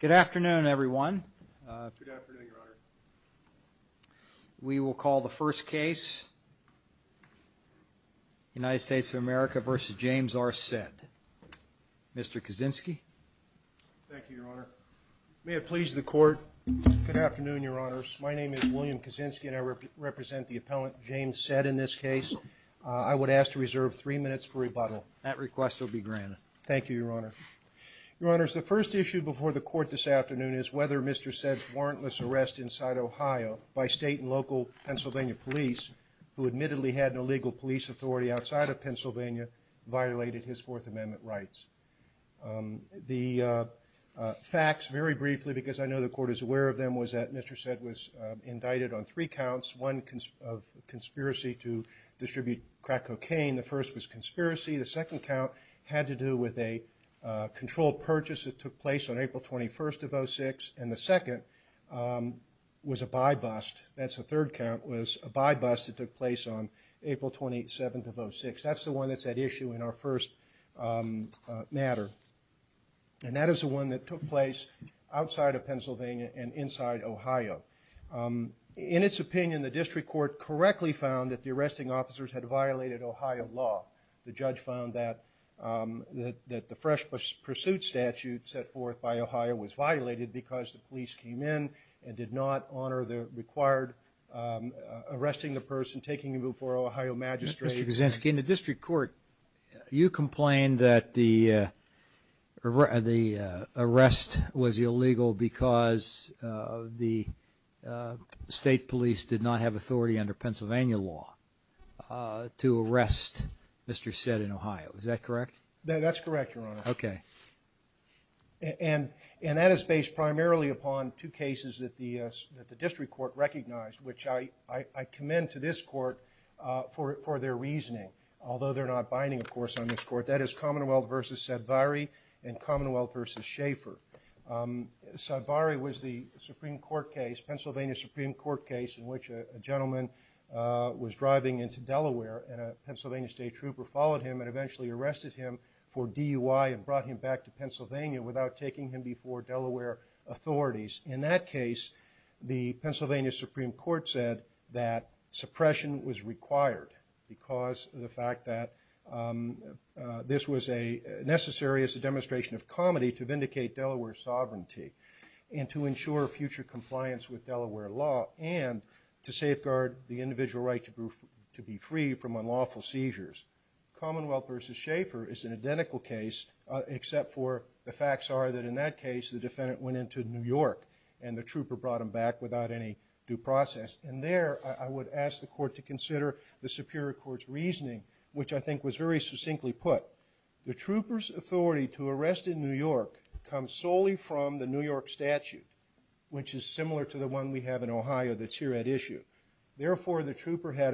Good afternoon, everyone. We will call the first case, United States of America versus James R. Sedd. Mr. Kaczynski. Thank you, Your Honor. May it please the Court. Good afternoon, Your Honors. My name is William Kaczynski and I represent the appellant James Sedd in this case. I would ask to reserve three minutes for rebuttal. That request will be granted. Thank you, Your Honor. Your Honors, the first issue before the Court this afternoon is whether Mr. Sedd's warrantless arrest inside Ohio by state and local Pennsylvania police, who admittedly had an illegal police authority outside of Pennsylvania, violated his Fourth Amendment rights. The facts, very briefly, because I know the Court is aware of them, was that Mr. Sedd was indicted on three counts. One of conspiracy to distribute crack cocaine. The first was conspiracy. The second count had to do with a controlled purchase that took place on April 21st of 2006. And the second was a buy bust. That's the third count, was a buy bust that took place on April 27th of 2006. That's the one that's at issue in our first matter. And that is the one that took place outside of Pennsylvania and inside Ohio. In its opinion, the District Court correctly found that the arresting officers had that the fresh pursuit statute set forth by Ohio was violated because the police came in and did not honor the required arresting the person taking him before Ohio Magistrate. Mr. Kuczynski, in the District Court, you complained that the the arrest was illegal because the state police did not have authority under that statute. That's correct, Your Honor. Okay. And that is based primarily upon two cases that the District Court recognized, which I commend to this Court for their reasoning, although they're not binding, of course, on this Court. That is Commonwealth v. Savaree and Commonwealth v. Schaefer. Savaree was the Supreme Court case, Pennsylvania Supreme Court case, in which a gentleman was driving into Delaware and a Pennsylvania State trooper followed him and eventually arrested him for DUI and brought him back to Pennsylvania without taking him before Delaware authorities. In that case, the Pennsylvania Supreme Court said that suppression was required because of the fact that this was necessary as a demonstration of comedy to vindicate Delaware's sovereignty and to ensure future compliance with Delaware law and to safeguard the individual right to be free from unlawful seizures. Commonwealth v. Schaefer is an identical case except for the facts are that in that case the defendant went into New York and the trooper brought him back without any due process. And there I would ask the Court to consider the Superior Court's reasoning, which I think was very succinctly put. The trooper's authority to arrest in New York comes solely from the New York statute, which is similar to the one we had a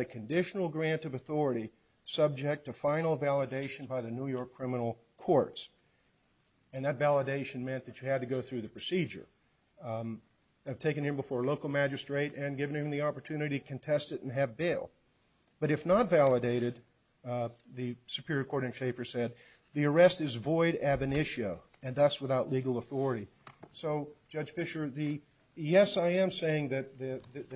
conditional grant of authority subject to final validation by the New York criminal courts. And that validation meant that you had to go through the procedure of taking him before a local magistrate and giving him the opportunity to contest it and have bail. But if not validated, the Superior Court in Schaefer said, the arrest is void ab initio and thus without legal authority. So Judge Fischer, yes I am saying that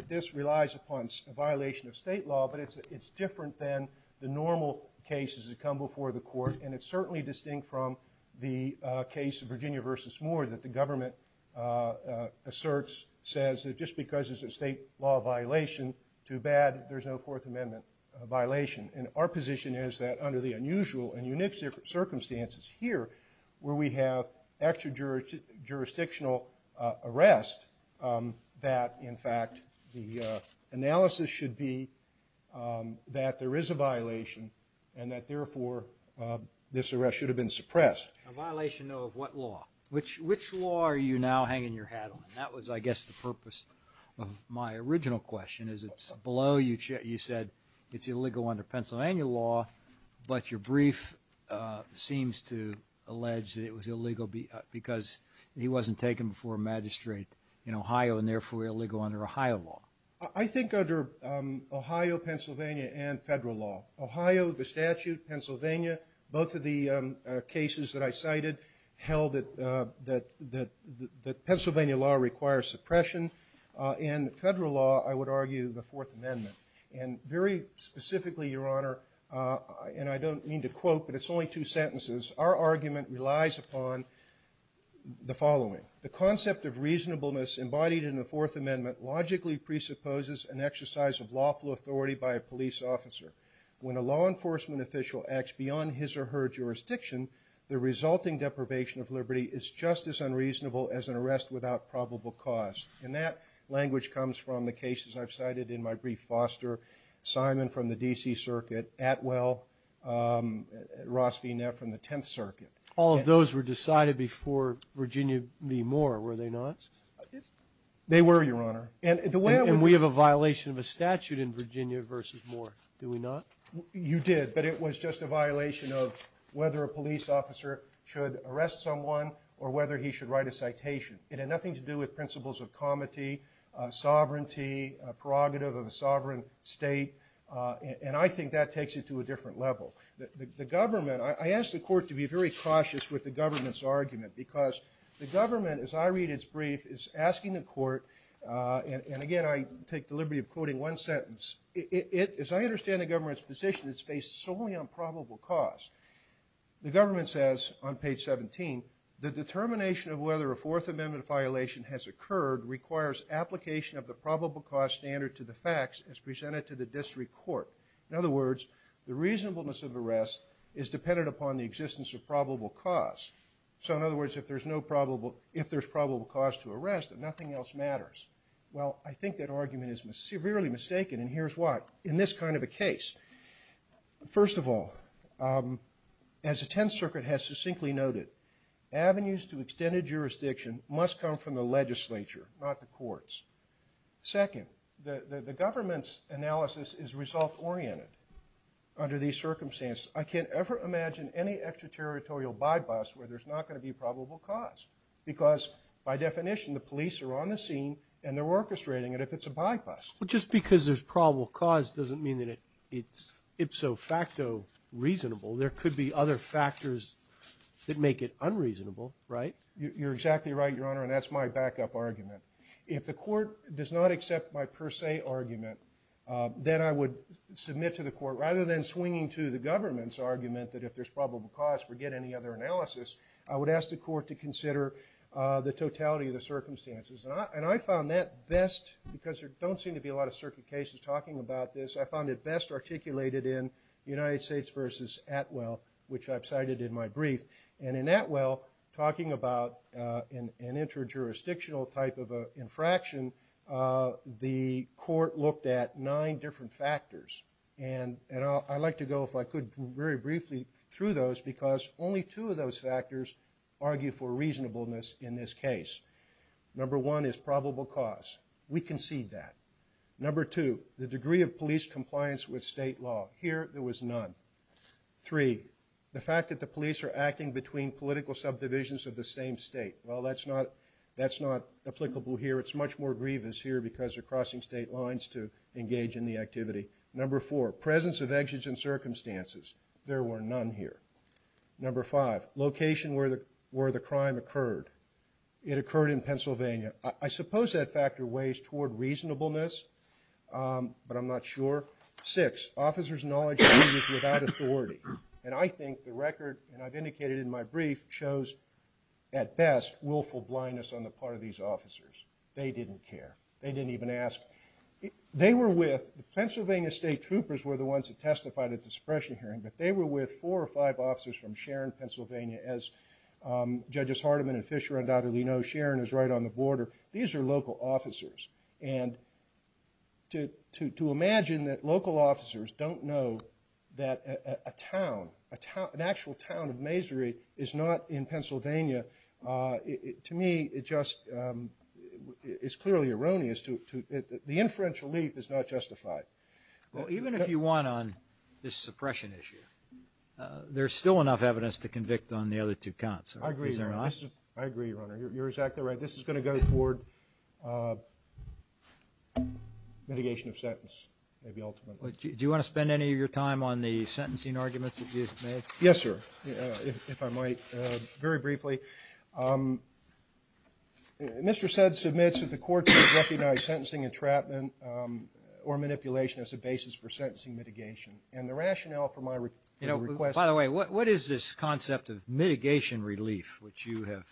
this relies upon a violation of state law, but it's different than the normal cases that come before the Court. And it's certainly distinct from the case of Virginia v. Moore that the government asserts says that just because it's a state law violation, too bad there's no Fourth Amendment violation. And our position is that under the unusual and unique circumstances here, where we have extra that there is a violation and that therefore this arrest should have been suppressed. A violation of what law? Which law are you now hanging your hat on? That was I guess the purpose of my original question. Is it below you said it's illegal under Pennsylvania law, but your brief seems to allege that it was illegal because he wasn't taken before a magistrate in Ohio and therefore illegal under Ohio law. I think under Ohio, Pennsylvania, and federal law. Ohio, the statute, Pennsylvania, both of the cases that I cited held that Pennsylvania law requires suppression. In federal law, I would argue the Fourth Amendment. And very specifically, Your Honor, and I don't mean to quote, but it's only two sentences, our argument relies upon the following. The concept of Fourth Amendment logically presupposes an exercise of lawful authority by a police officer. When a law enforcement official acts beyond his or her jurisdiction, the resulting deprivation of liberty is just as unreasonable as an arrest without probable cause. And that language comes from the cases I've cited in my brief. Foster, Simon from the DC Circuit, Atwell, Ross V. Neff from the 10th Circuit. All of these were decided before Virginia v. Moore, were they not? They were, Your Honor. And we have a violation of a statute in Virginia versus Moore, do we not? You did, but it was just a violation of whether a police officer should arrest someone or whether he should write a citation. It had nothing to do with principles of comity, sovereignty, prerogative of a sovereign state, and I think that takes it to a different level. The government, I asked the court to be very cautious with the government's argument because the government, as I read its brief, is asking the court, and again I take the liberty of quoting one sentence, as I understand the government's position, it's based solely on probable cause. The government says on page 17, the determination of whether a Fourth Amendment violation has occurred requires application of the probable cause standard to the facts as presented to the district court. In other words, the probable cause. So in other words, if there's no probable, if there's probable cause to arrest, then nothing else matters. Well, I think that argument is severely mistaken, and here's why. In this kind of a case, first of all, as the 10th Circuit has succinctly noted, avenues to extended jurisdiction must come from the legislature, not the courts. Second, the government's analysis is result-oriented under these circumstances. I can't ever imagine any extraterritorial bypass where there's not going to be probable cause, because by definition, the police are on the scene and they're orchestrating it if it's a bypass. Well, just because there's probable cause doesn't mean that it's ipso facto reasonable. There could be other factors that make it unreasonable, right? You're exactly right, Your Honor, and that's my backup argument. If the court does not accept my per se argument, then I would submit to the court, rather than swinging to the government's argument that if there's probable cause, forget any other analysis, I would ask the court to consider the totality of the circumstances. And I found that best, because there don't seem to be a lot of circuit cases talking about this, I found it best articulated in United States versus Atwell, which I've cited in my brief. And in Atwell, talking about an inter-jurisdictional type of a infraction, the court looked at nine different factors. And I'd like to go, if I could, very briefly through those, because only two of those factors argue for reasonableness in this case. Number one is probable cause. We concede that. Number two, the degree of police compliance with state law. Here, there was none. Three, the fact that the police are acting between political subdivisions of the same state. Well, that's not applicable here. It's much more grievous here, because they're crossing state lines to engage in the activity. Number four, presence of exits in circumstances. There were none here. Number five, location where the crime occurred. It occurred in Pennsylvania. I suppose that factor weighs toward reasonableness, but I'm not sure. Six, officers' knowledge of users without authority. And I think the record, and I've indicated in my brief, shows, at best, willful blindness on the officers. They didn't care. They didn't even ask. They were with, the Pennsylvania State Troopers were the ones that testified at the suppression hearing, but they were with four or five officers from Sharon, Pennsylvania. As Judges Hardiman and Fisher undoubtedly know, Sharon is right on the border. These are local officers. And to imagine that local officers don't know that a town, an actual town of Masary, is not in Pennsylvania, to me, it just is clearly erroneous. The inferential leap is not justified. Well, even if you want on this suppression issue, there's still enough evidence to convict on the other two counts. I agree. I agree, Your Honor. You're exactly right. This is going to go toward mitigation of sentence, maybe ultimately. Do you want to spend any of the sentencing arguments that you've made? Yes, sir, if I might. Very briefly, Mr. Sedd submits that the courts recognize sentencing entrapment or manipulation as a basis for sentencing mitigation. And the rationale for my request... You know, by the way, what is this concept of mitigation relief which you have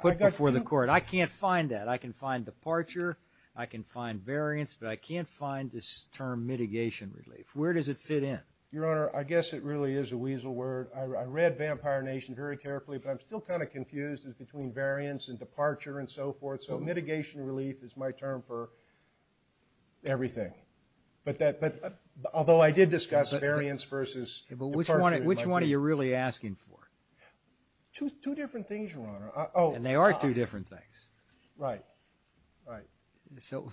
put before the court? I can't find that. I can find departure. I can find variance, but I Your Honor, I guess it really is a weasel word. I read Vampire Nation very carefully, but I'm still kind of confused between variance and departure and so forth. So mitigation relief is my term for everything. But that, although I did discuss the variance versus... But which one are you really asking for? Two different things, Your Honor. And they are two different things. Right, right. So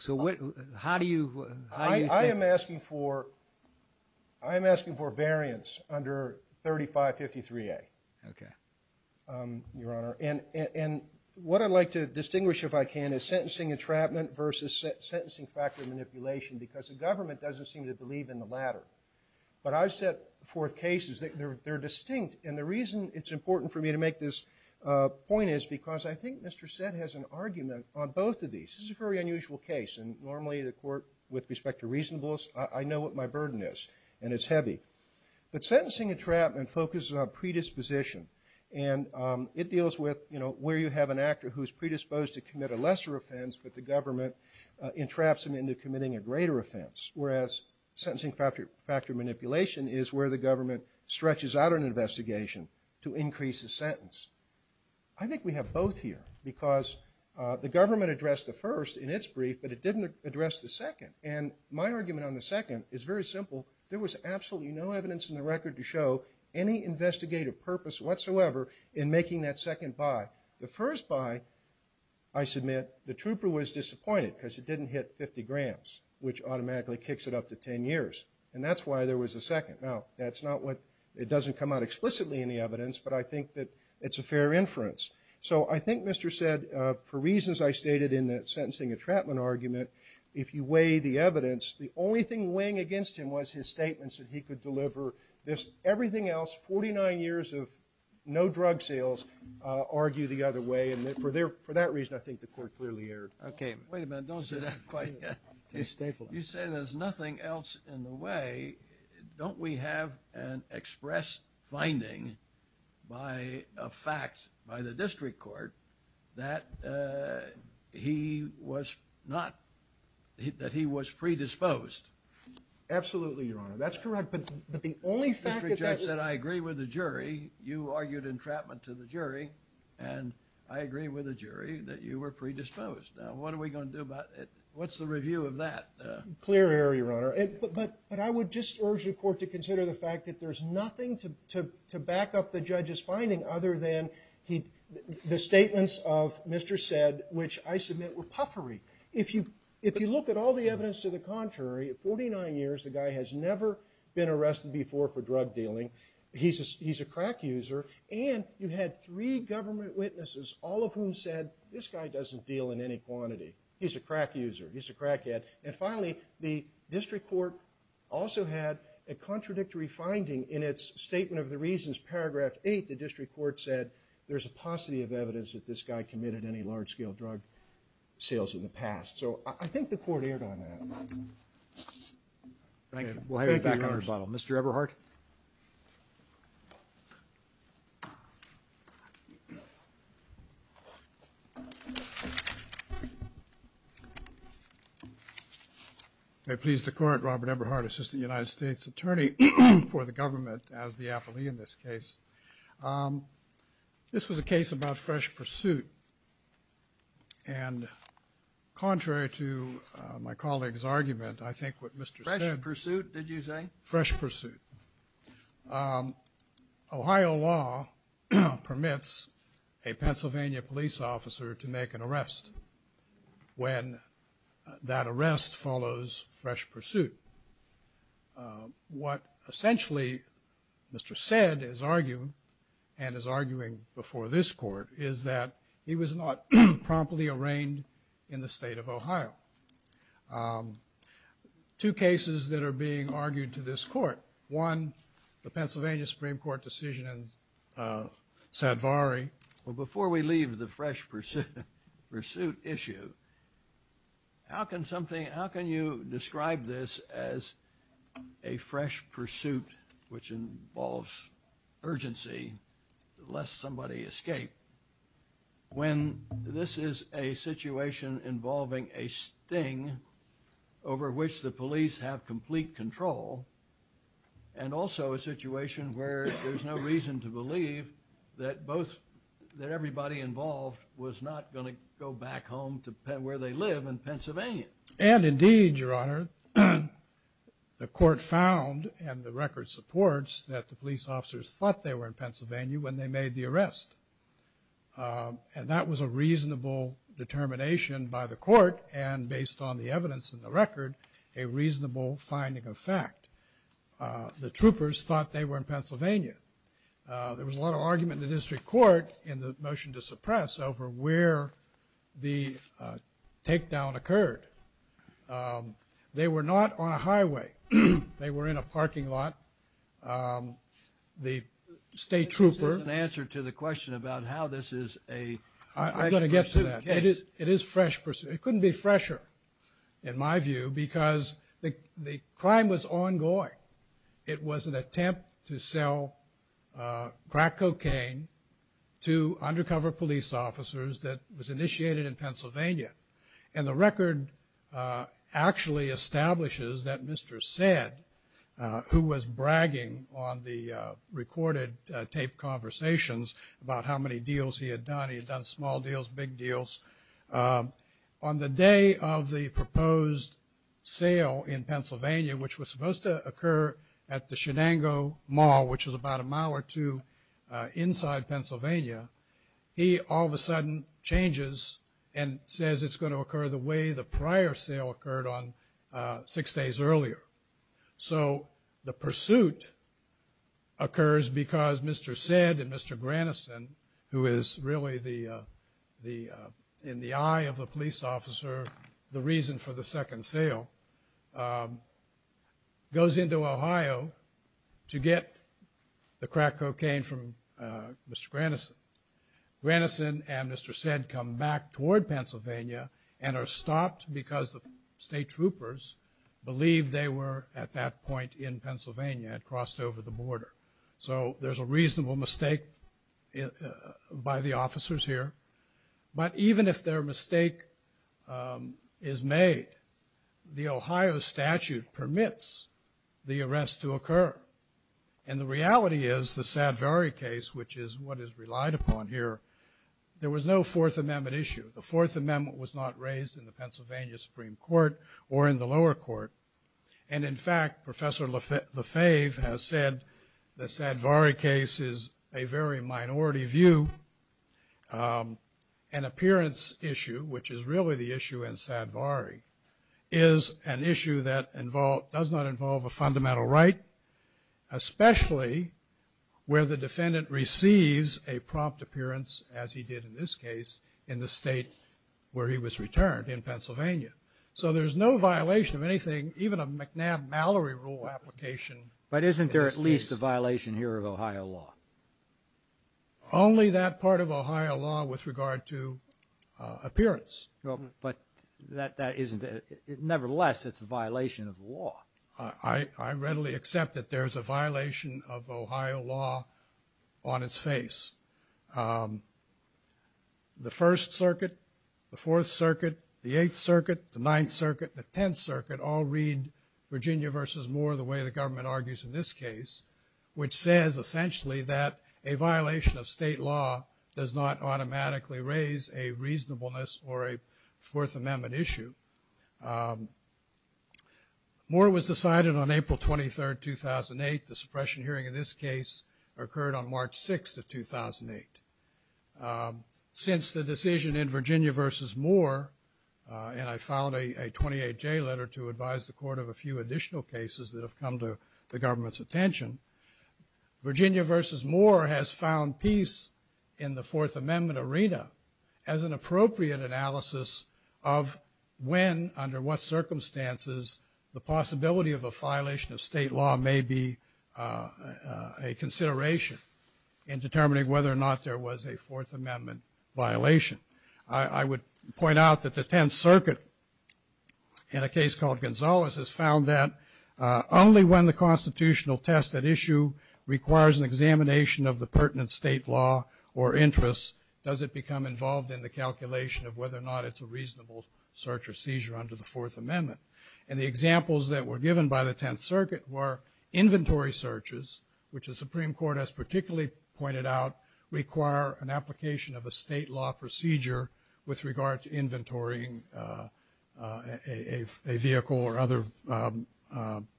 how do you... I am asking for variance under 3553A. Okay. Your Honor. And what I'd like to distinguish, if I can, is sentencing entrapment versus sentencing factor manipulation because the government doesn't seem to believe in the latter. But I've set forth cases that they're distinct. And the reason it's important for me to make this point is because I think Mr. Sedd has an unusual case. And normally the court, with respect to reasonableness, I know what my burden is. And it's heavy. But sentencing entrapment focuses on predisposition. And it deals with, you know, where you have an actor who's predisposed to commit a lesser offense, but the government entraps him into committing a greater offense. Whereas sentencing factor manipulation is where the government stretches out an investigation to increase the sentence. I think the government addressed the first in its brief, but it didn't address the second. And my argument on the second is very simple. There was absolutely no evidence in the record to show any investigative purpose whatsoever in making that second buy. The first buy, I submit, the trooper was disappointed because it didn't hit 50 grams, which automatically kicks it up to 10 years. And that's why there was a second. Now, that's not what... It doesn't come out explicitly in the evidence, but I think that it's a fair inference. So I think Mr. said, for reasons I stated in that sentencing entrapment argument, if you weigh the evidence, the only thing weighing against him was his statements that he could deliver this. Everything else, 49 years of no drug sales, argue the other way. And for that reason, I think the court clearly erred. Okay. Wait a minute. Don't say that quite yet. You say there's nothing else in the way. Don't we have an express finding by a fact by the district court that he was not... that he was predisposed? Absolutely, Your Honor. That's correct, but the only fact that... The district judge said, I agree with the jury. You argued entrapment to the jury, and I agree with the jury that you were predisposed. Now, what are we going to do about it? What's the review of that? Clear error, Your Honor. But I would just urge the court to consider the fact that there's nothing to back up the judge's finding other than the statements of Mr. said, which I submit were puffery. If you look at all the evidence to the contrary, at 49 years, the guy has never been arrested before for drug dealing. He's a crack user, and you had three He's a crack user. He's a crack head. And finally, the district court also had a contradictory finding in its statement of the reasons, paragraph 8, the district court said there's a paucity of evidence that this guy committed any large-scale drug sales in the past. So I think the court erred on that. Thank you. We'll have you back on rebuttal. Mr. Eberhardt. May it please the Court, Robert Eberhardt, Assistant United States Attorney for the government as the appellee in this case. This was a case about fresh pursuit, and contrary to my colleague's argument, I think what Mr. said... Fresh pursuit, did you say? Fresh pursuit. Ohio law permits a Pennsylvania police officer to make an arrest when that arrest follows fresh pursuit. What essentially Mr. said is arguing, and is arguing before this court, is that he was not promptly arraigned in the state of Ohio. Two cases that are being argued to this court. One, the Pennsylvania Supreme Court decision in Sadvari. Well, before we leave the fresh pursuit issue, how can something, how can you describe this as a fresh pursuit which involves urgency, lest somebody escape, when this is a situation involving a sting over which the police have complete control, and also a situation where there's no reason to believe that both, that everybody involved was not going to go back home to where they live in Pennsylvania. And indeed, Your Honor, the court found, and the record supports, that the police officers thought they were in Pennsylvania when they made the arrest. And that was a reasonable determination by the court, and based on the evidence in the record, a reasonable finding of fact. The troopers thought they were in Pennsylvania. There was a lot of argument in the district court in the motion to suppress over where the takedown occurred. They were not on a highway. They were in a parking lot. The state trooper... This is an answer to the question about how this is a fresh pursuit case. I'm going to get to that. It is fresh pursuit. It couldn't be fresher in my view because the crime was ongoing. It was an attempt to sell crack cocaine to undercover police officers that was initiated in Pennsylvania. And the record actually establishes that Mr. Sedd, who was bragging on the recorded tape conversations about how many deals he had done. He had done small deals, big deals. On the day of the proposed sale in Pennsylvania, which was supposed to occur at the Shenango Mall, which is about a mile or two inside Pennsylvania, he all of a sudden changes and says it's going to occur the way the prior sale occurred on six days earlier. So the pursuit occurs because Mr. Sedd and Mr. Grannison, who is really in the eye of the police officer, the reason for the second sale, goes into Ohio to get the crack cocaine from Mr. Grannison. Grannison and Mr. Sedd come back toward Pennsylvania and are stopped because the state troopers believed they were at that point in Pennsylvania and crossed over the border. So there's a reasonable mistake by the officers here. But even if their mistake is made, the Ohio statute permits the arrest to occur. And the issue that I've relied upon here, there was no Fourth Amendment issue. The Fourth Amendment was not raised in the Pennsylvania Supreme Court or in the lower court. And in fact, Professor Lefebvre has said the Sadvari case is a very minority view. An appearance issue, which is really the issue in Sadvari, is an issue that does not involve a fundamental right, especially where the defendant receives a prompt appearance, as he did in this case, in the state where he was returned, in Pennsylvania. So there's no violation of anything, even a McNabb-Mallory rule application. But isn't there at least a violation here of Ohio law? Only that part of Ohio law with regard to appearance. But that isn't it. Nevertheless, it's a violation of the law. I readily accept that there's a violation of Ohio law on its face. The First Circuit, the Fourth Circuit, the Eighth Circuit, the Ninth Circuit, the Tenth Circuit all read Virginia versus Moore the way the government argues in this case, which says essentially that a violation of state law does not automatically raise a reasonableness or a Fourth Amendment issue. Moore was decided on April 23rd, 2008. The suppression hearing in this case occurred on March 6th of 2008. Since the decision in Virginia versus Moore, and I filed a 28-J letter to advise the court of a few additional cases that have come to the government's attention, Virginia versus Moore has found peace in the Fourth Amendment arena as an appropriate analysis of when, under what of a violation of state law may be a consideration in determining whether or not there was a Fourth Amendment violation. I would point out that the Tenth Circuit, in a case called Gonzales, has found that only when the constitutional test at issue requires an examination of the pertinent state law or interests does it become involved in the calculation of whether or not it's a reasonable search or seizure under the Fourth Amendment. And the examples that were given by the Tenth Circuit were inventory searches, which the Supreme Court has particularly pointed out require an application of a state law procedure with regard to inventorying a vehicle or other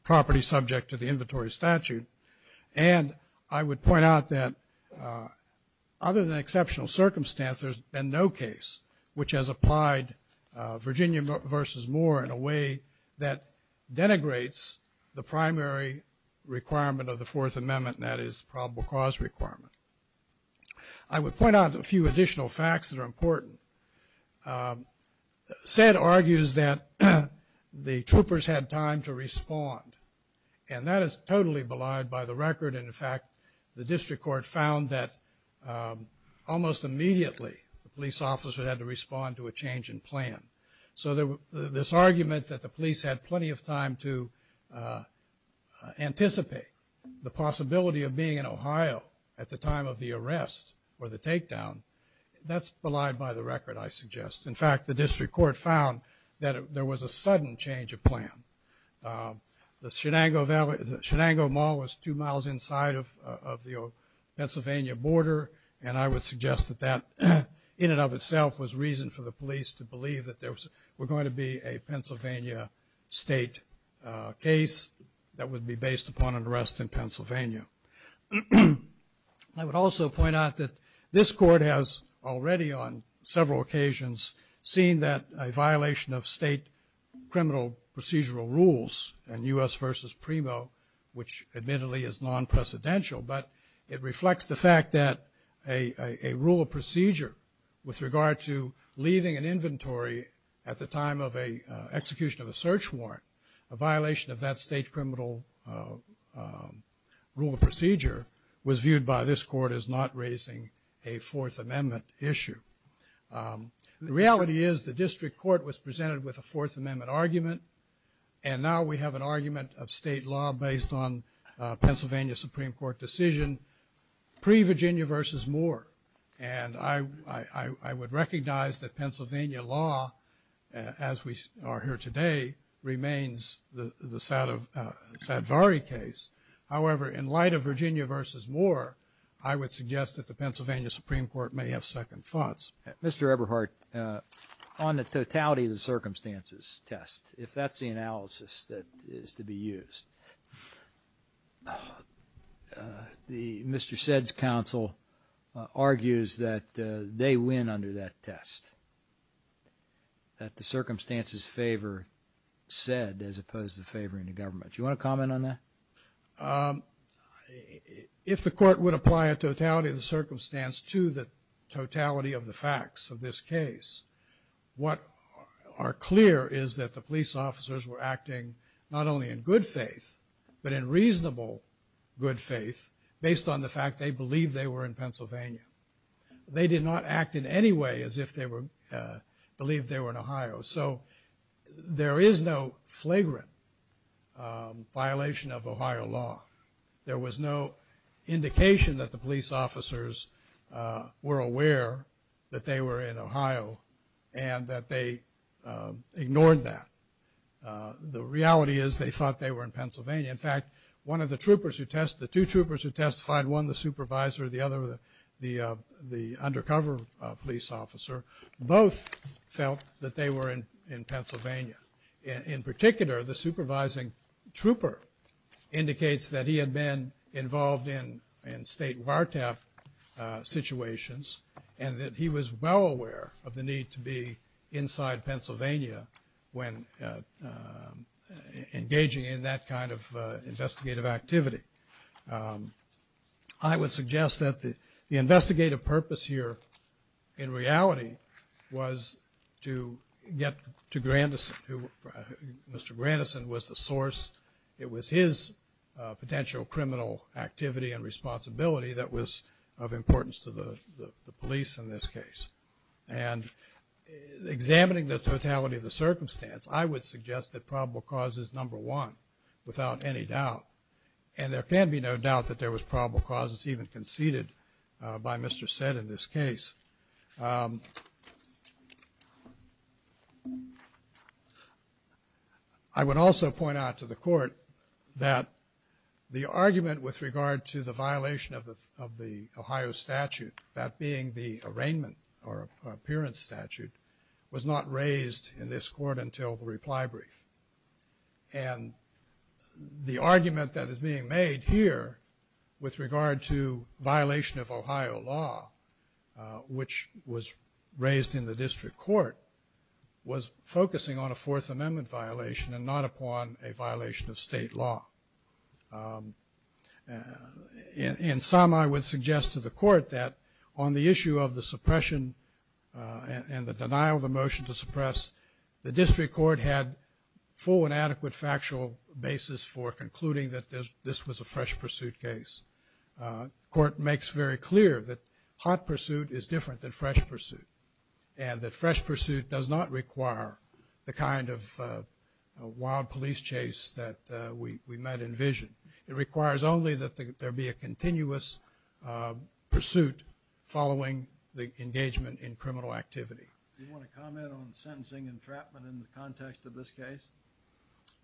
property subject to the inventory statute. And I would point out that other than exceptional circumstances, there's been no case which has applied Virginia versus Moore in a case that denigrates the primary requirement of the Fourth Amendment, and that is probable cause requirement. I would point out a few additional facts that are important. SED argues that the troopers had time to respond, and that is totally belied by the record. In fact, the district court found that almost immediately the police officer had to respond to a change in plan. So this argument that the police had plenty of time to anticipate the possibility of being in Ohio at the time of the arrest or the takedown, that's belied by the record, I suggest. In fact, the district court found that there was a sudden change of plan. The Shenango Mall was two miles inside of the Pennsylvania border, and I would suggest that that in and of itself was reason for the police to believe that there was going to be a Pennsylvania state case that would be based upon an arrest in Pennsylvania. I would also point out that this court has already on several occasions seen that a violation of state criminal procedural rules and U.S. versus PRIMO, which admittedly is non-precedential, but it reflects the fact that a rule of procedure with regard to leaving an inventory at the time of a execution of a search warrant, a violation of that state criminal rule of procedure, was viewed by this court as not raising a Fourth Amendment issue. The reality is the district court was presented with a Fourth Amendment argument, and now we have an argument of state law based on Pennsylvania Supreme Court decision, pre-Virginia versus Moore. And I would recognize that Pennsylvania law, as we are here today, remains the the Sadvari case. However, in light of Virginia versus Moore, I would suggest that the Pennsylvania Supreme Court may have second thoughts. Mr. Eberhardt, on the totality of the circumstances test, if that's the analysis that is to be argues that they win under that test, that the circumstances favor said, as opposed to favoring the government. Do you want to comment on that? If the court would apply a totality of the circumstance to the totality of the facts of this case, what are clear is that the police officers were acting not only in good faith, but in reasonable good faith, based on the fact they believe they were in Pennsylvania. They did not act in any way as if they were believe they were in Ohio. So there is no flagrant violation of Ohio law. There was no indication that the police officers were aware that they were in Ohio, and that they ignored that. The reality is they thought they were in Pennsylvania. In fact, one of the troopers who test, the two troopers who testified, one the supervisor, the other the undercover police officer, both felt that they were in Pennsylvania. In particular, the supervising trooper indicates that he had been involved in state wiretap situations, and that he was well aware of the need to be inside Pennsylvania when engaging in that kind of investigative activity. I would suggest that the investigative purpose here, in reality, was to get to Grandison. Mr. Grandison was the source. It was his potential criminal activity and responsibility that was of importance to the police in this case. And examining the totality of the circumstance, I would suggest that probable cause is number one, without any doubt. And there can be no doubt that there was probable causes even conceded by Mr. Sedd in this case. I would also point out to the court that the argument with regard to the violation of the Ohio statute, that being the arraignment or appearance statute, was not raised in this court until the reply brief. And the argument that is being made here, with regard to violation of Ohio law, which was raised in the district court, was focusing on a Fourth Amendment violation and not upon a violation of state law. In sum, I would suggest to the court that on the issue of the suppression and the district court had full and adequate factual basis for concluding that this was a fresh pursuit case. The court makes very clear that hot pursuit is different than fresh pursuit. And that fresh pursuit does not require the kind of wild police chase that we might envision. It requires only that there be a continuous pursuit following the engagement in criminal activity. You want to comment on sentencing entrapment in the context of this case?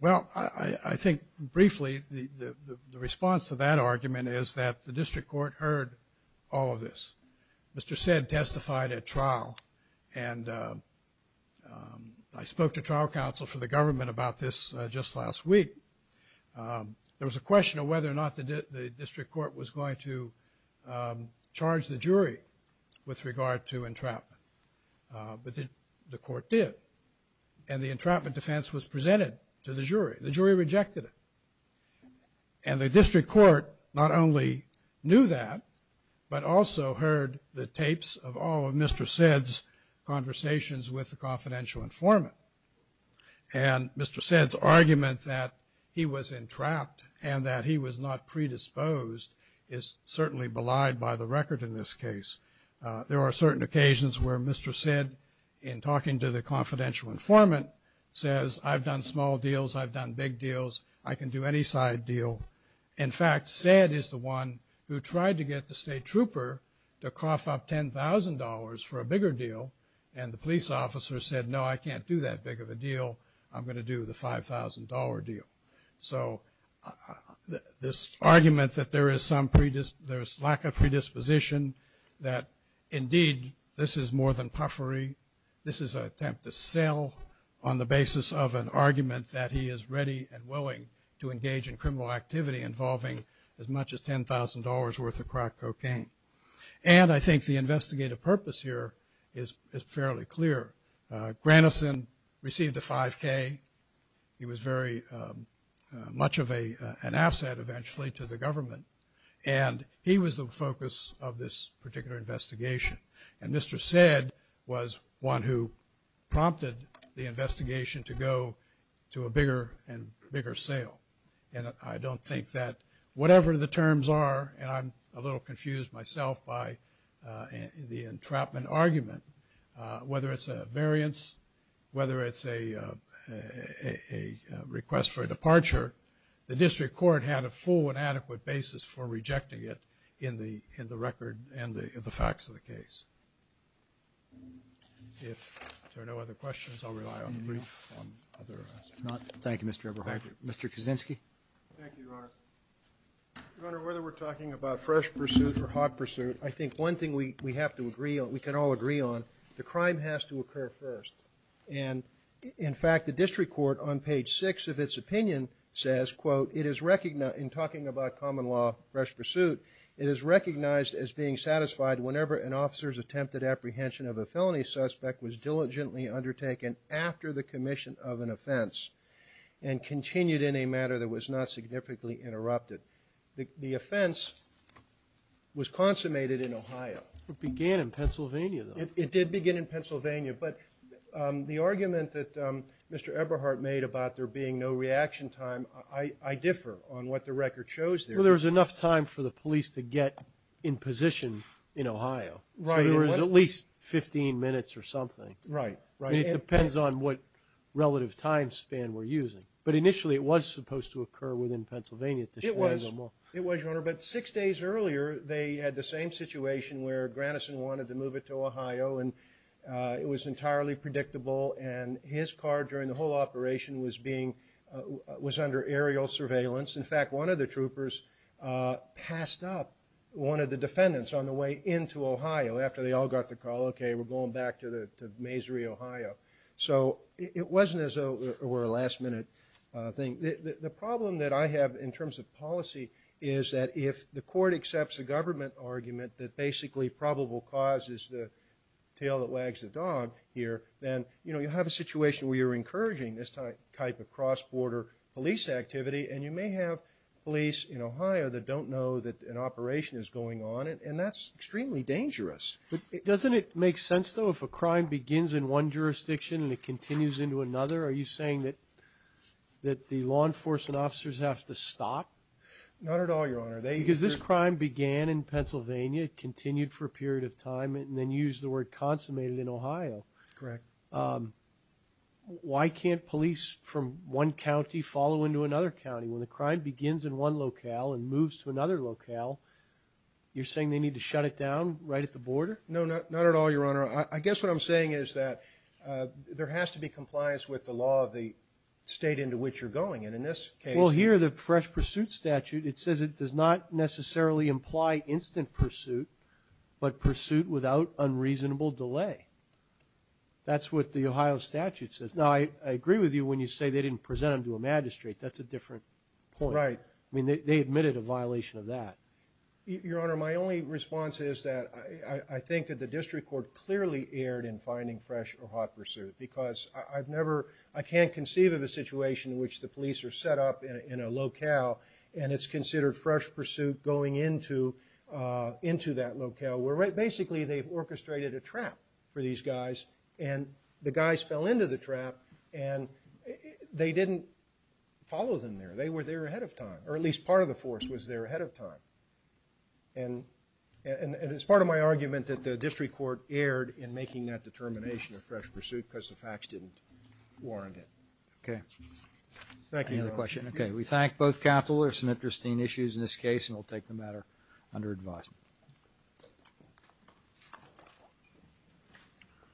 Well, I think briefly the response to that argument is that the district court heard all of this. Mr. Sedd testified at trial and I spoke to trial counsel for the government about this just last week. There was a question of whether or not the district court was going to charge the jury with regard to entrapment. But the court did. And the entrapment defense was presented to the jury. The jury rejected it. And the district court not only knew that, but also heard the tapes of all of Mr. Sedd's conversations with the confidential informant. And Mr. Sedd's argument that he was entrapped and that he was not predisposed is certainly belied by the record in this case. There are certain occasions where Mr. Sedd, in talking to the confidential informant, says, I've done small deals, I've done big deals, I can do any side deal. In fact, Sedd is the one who tried to get the state trooper to cough up $10,000 for a bigger deal. And the police officer said, no, I can't do that big of a deal. I'm going to do the $5,000 deal. So this argument that there is lack of predisposition, that indeed, this is more than puffery. This is an attempt to sell on the basis of an argument that he is ready and willing to engage in criminal activity involving as much as $10,000 worth of crack cocaine. And I think the investigative purpose here is fairly clear. Granison received a 5K. He was very much of an asset eventually to the government. And he was the focus of this particular investigation. And Mr. Sedd was one who prompted the investigation to go to a bigger and bigger sale. And I don't think that whatever the terms are, and I'm a little confused myself by the entrapment argument, whether it's a variance, whether it's a request for a departure, the district court had a full and complete review of the facts of the case. If there are no other questions, I'll rely on the brief on other aspects. Thank you, Mr. Everhart. Mr. Kaczynski. Thank you, Your Honor. Your Honor, whether we're talking about fresh pursuit or hot pursuit, I think one thing we have to agree on, we can all agree on, the crime has to occur first. And in fact, the district court on page 6 of its opinion says, quote, it is recognized, in talking about common law fresh pursuit, it is recognized as being satisfied whenever an officer's attempted apprehension of a felony suspect was diligently undertaken after the commission of an offense and continued in a matter that was not significantly interrupted. The offense was consummated in Ohio. It began in Pennsylvania, though. It did begin in Pennsylvania. But the argument that Mr. Everhart made about there being no reaction time, I differ on what the record shows there. Well, there was enough time for the police to get in position in Ohio. Right. So there was at least 15 minutes or something. Right. And it depends on what relative time span we're using. But initially, it was supposed to occur within Pennsylvania. It was, Your Honor. But six days earlier, they had the same situation where Granison wanted to move it to Ohio, and it was entirely predictable. And his car during the whole operation was being, was under aerial surveillance. In fact, one of the troopers passed up one of the defendants on the way into Ohio after they all got the call, okay, we're going back to Mazury, Ohio. So it wasn't as though it were a last minute thing. The problem that I have in terms of policy is that if the court accepts a government argument that basically probable cause is the tail that wags the dog here, then, you know, you have a situation where you're encouraging this type of cross-border police activity, and you may have police in Ohio that don't know that an operation is going on, and that's extremely dangerous. But doesn't it make sense, though, if a crime begins in one jurisdiction and it continues into another? Are you saying that the law enforcement officers have to stop? Not at all, Your Honor. Because this crime began in Pennsylvania, continued for a period of time, and then used the word consummated in Ohio. Correct. Why can't police from one county follow into another county? When the crime begins in one locale and moves to another locale, you're saying they need to shut it down right at the border? No, not at all, Your Honor. I guess what I'm saying is that there has to be compliance with the law of the state into which you're going. And in this case ñ Well, here, the fresh pursuit statute, it says it does not necessarily imply instant pursuit, but pursuit without unreasonable delay. That's what the Ohio statute says. Now, I agree with you when you say they didn't present them to a magistrate. That's a different point. Right. I mean, they admitted a violation of that. Your Honor, my only response is that I think that the district court clearly erred in finding fresh or hot pursuit because I've never ñ I can't conceive of a situation in which the police are set up in a locale and it's considered fresh pursuit going into that locale where basically they've orchestrated a trap for these guys and the guys fell into the trap and they didn't follow them there. They were there ahead of time, or at least part of the force was there ahead of time. And it's part of my argument that the district court erred in making that determination of fresh pursuit because the facts didn't warrant it. Okay. Thank you, Your Honor. Any other questions? Okay. We thank both counselors. Some interesting issues in this case, and we'll take the matter under advice.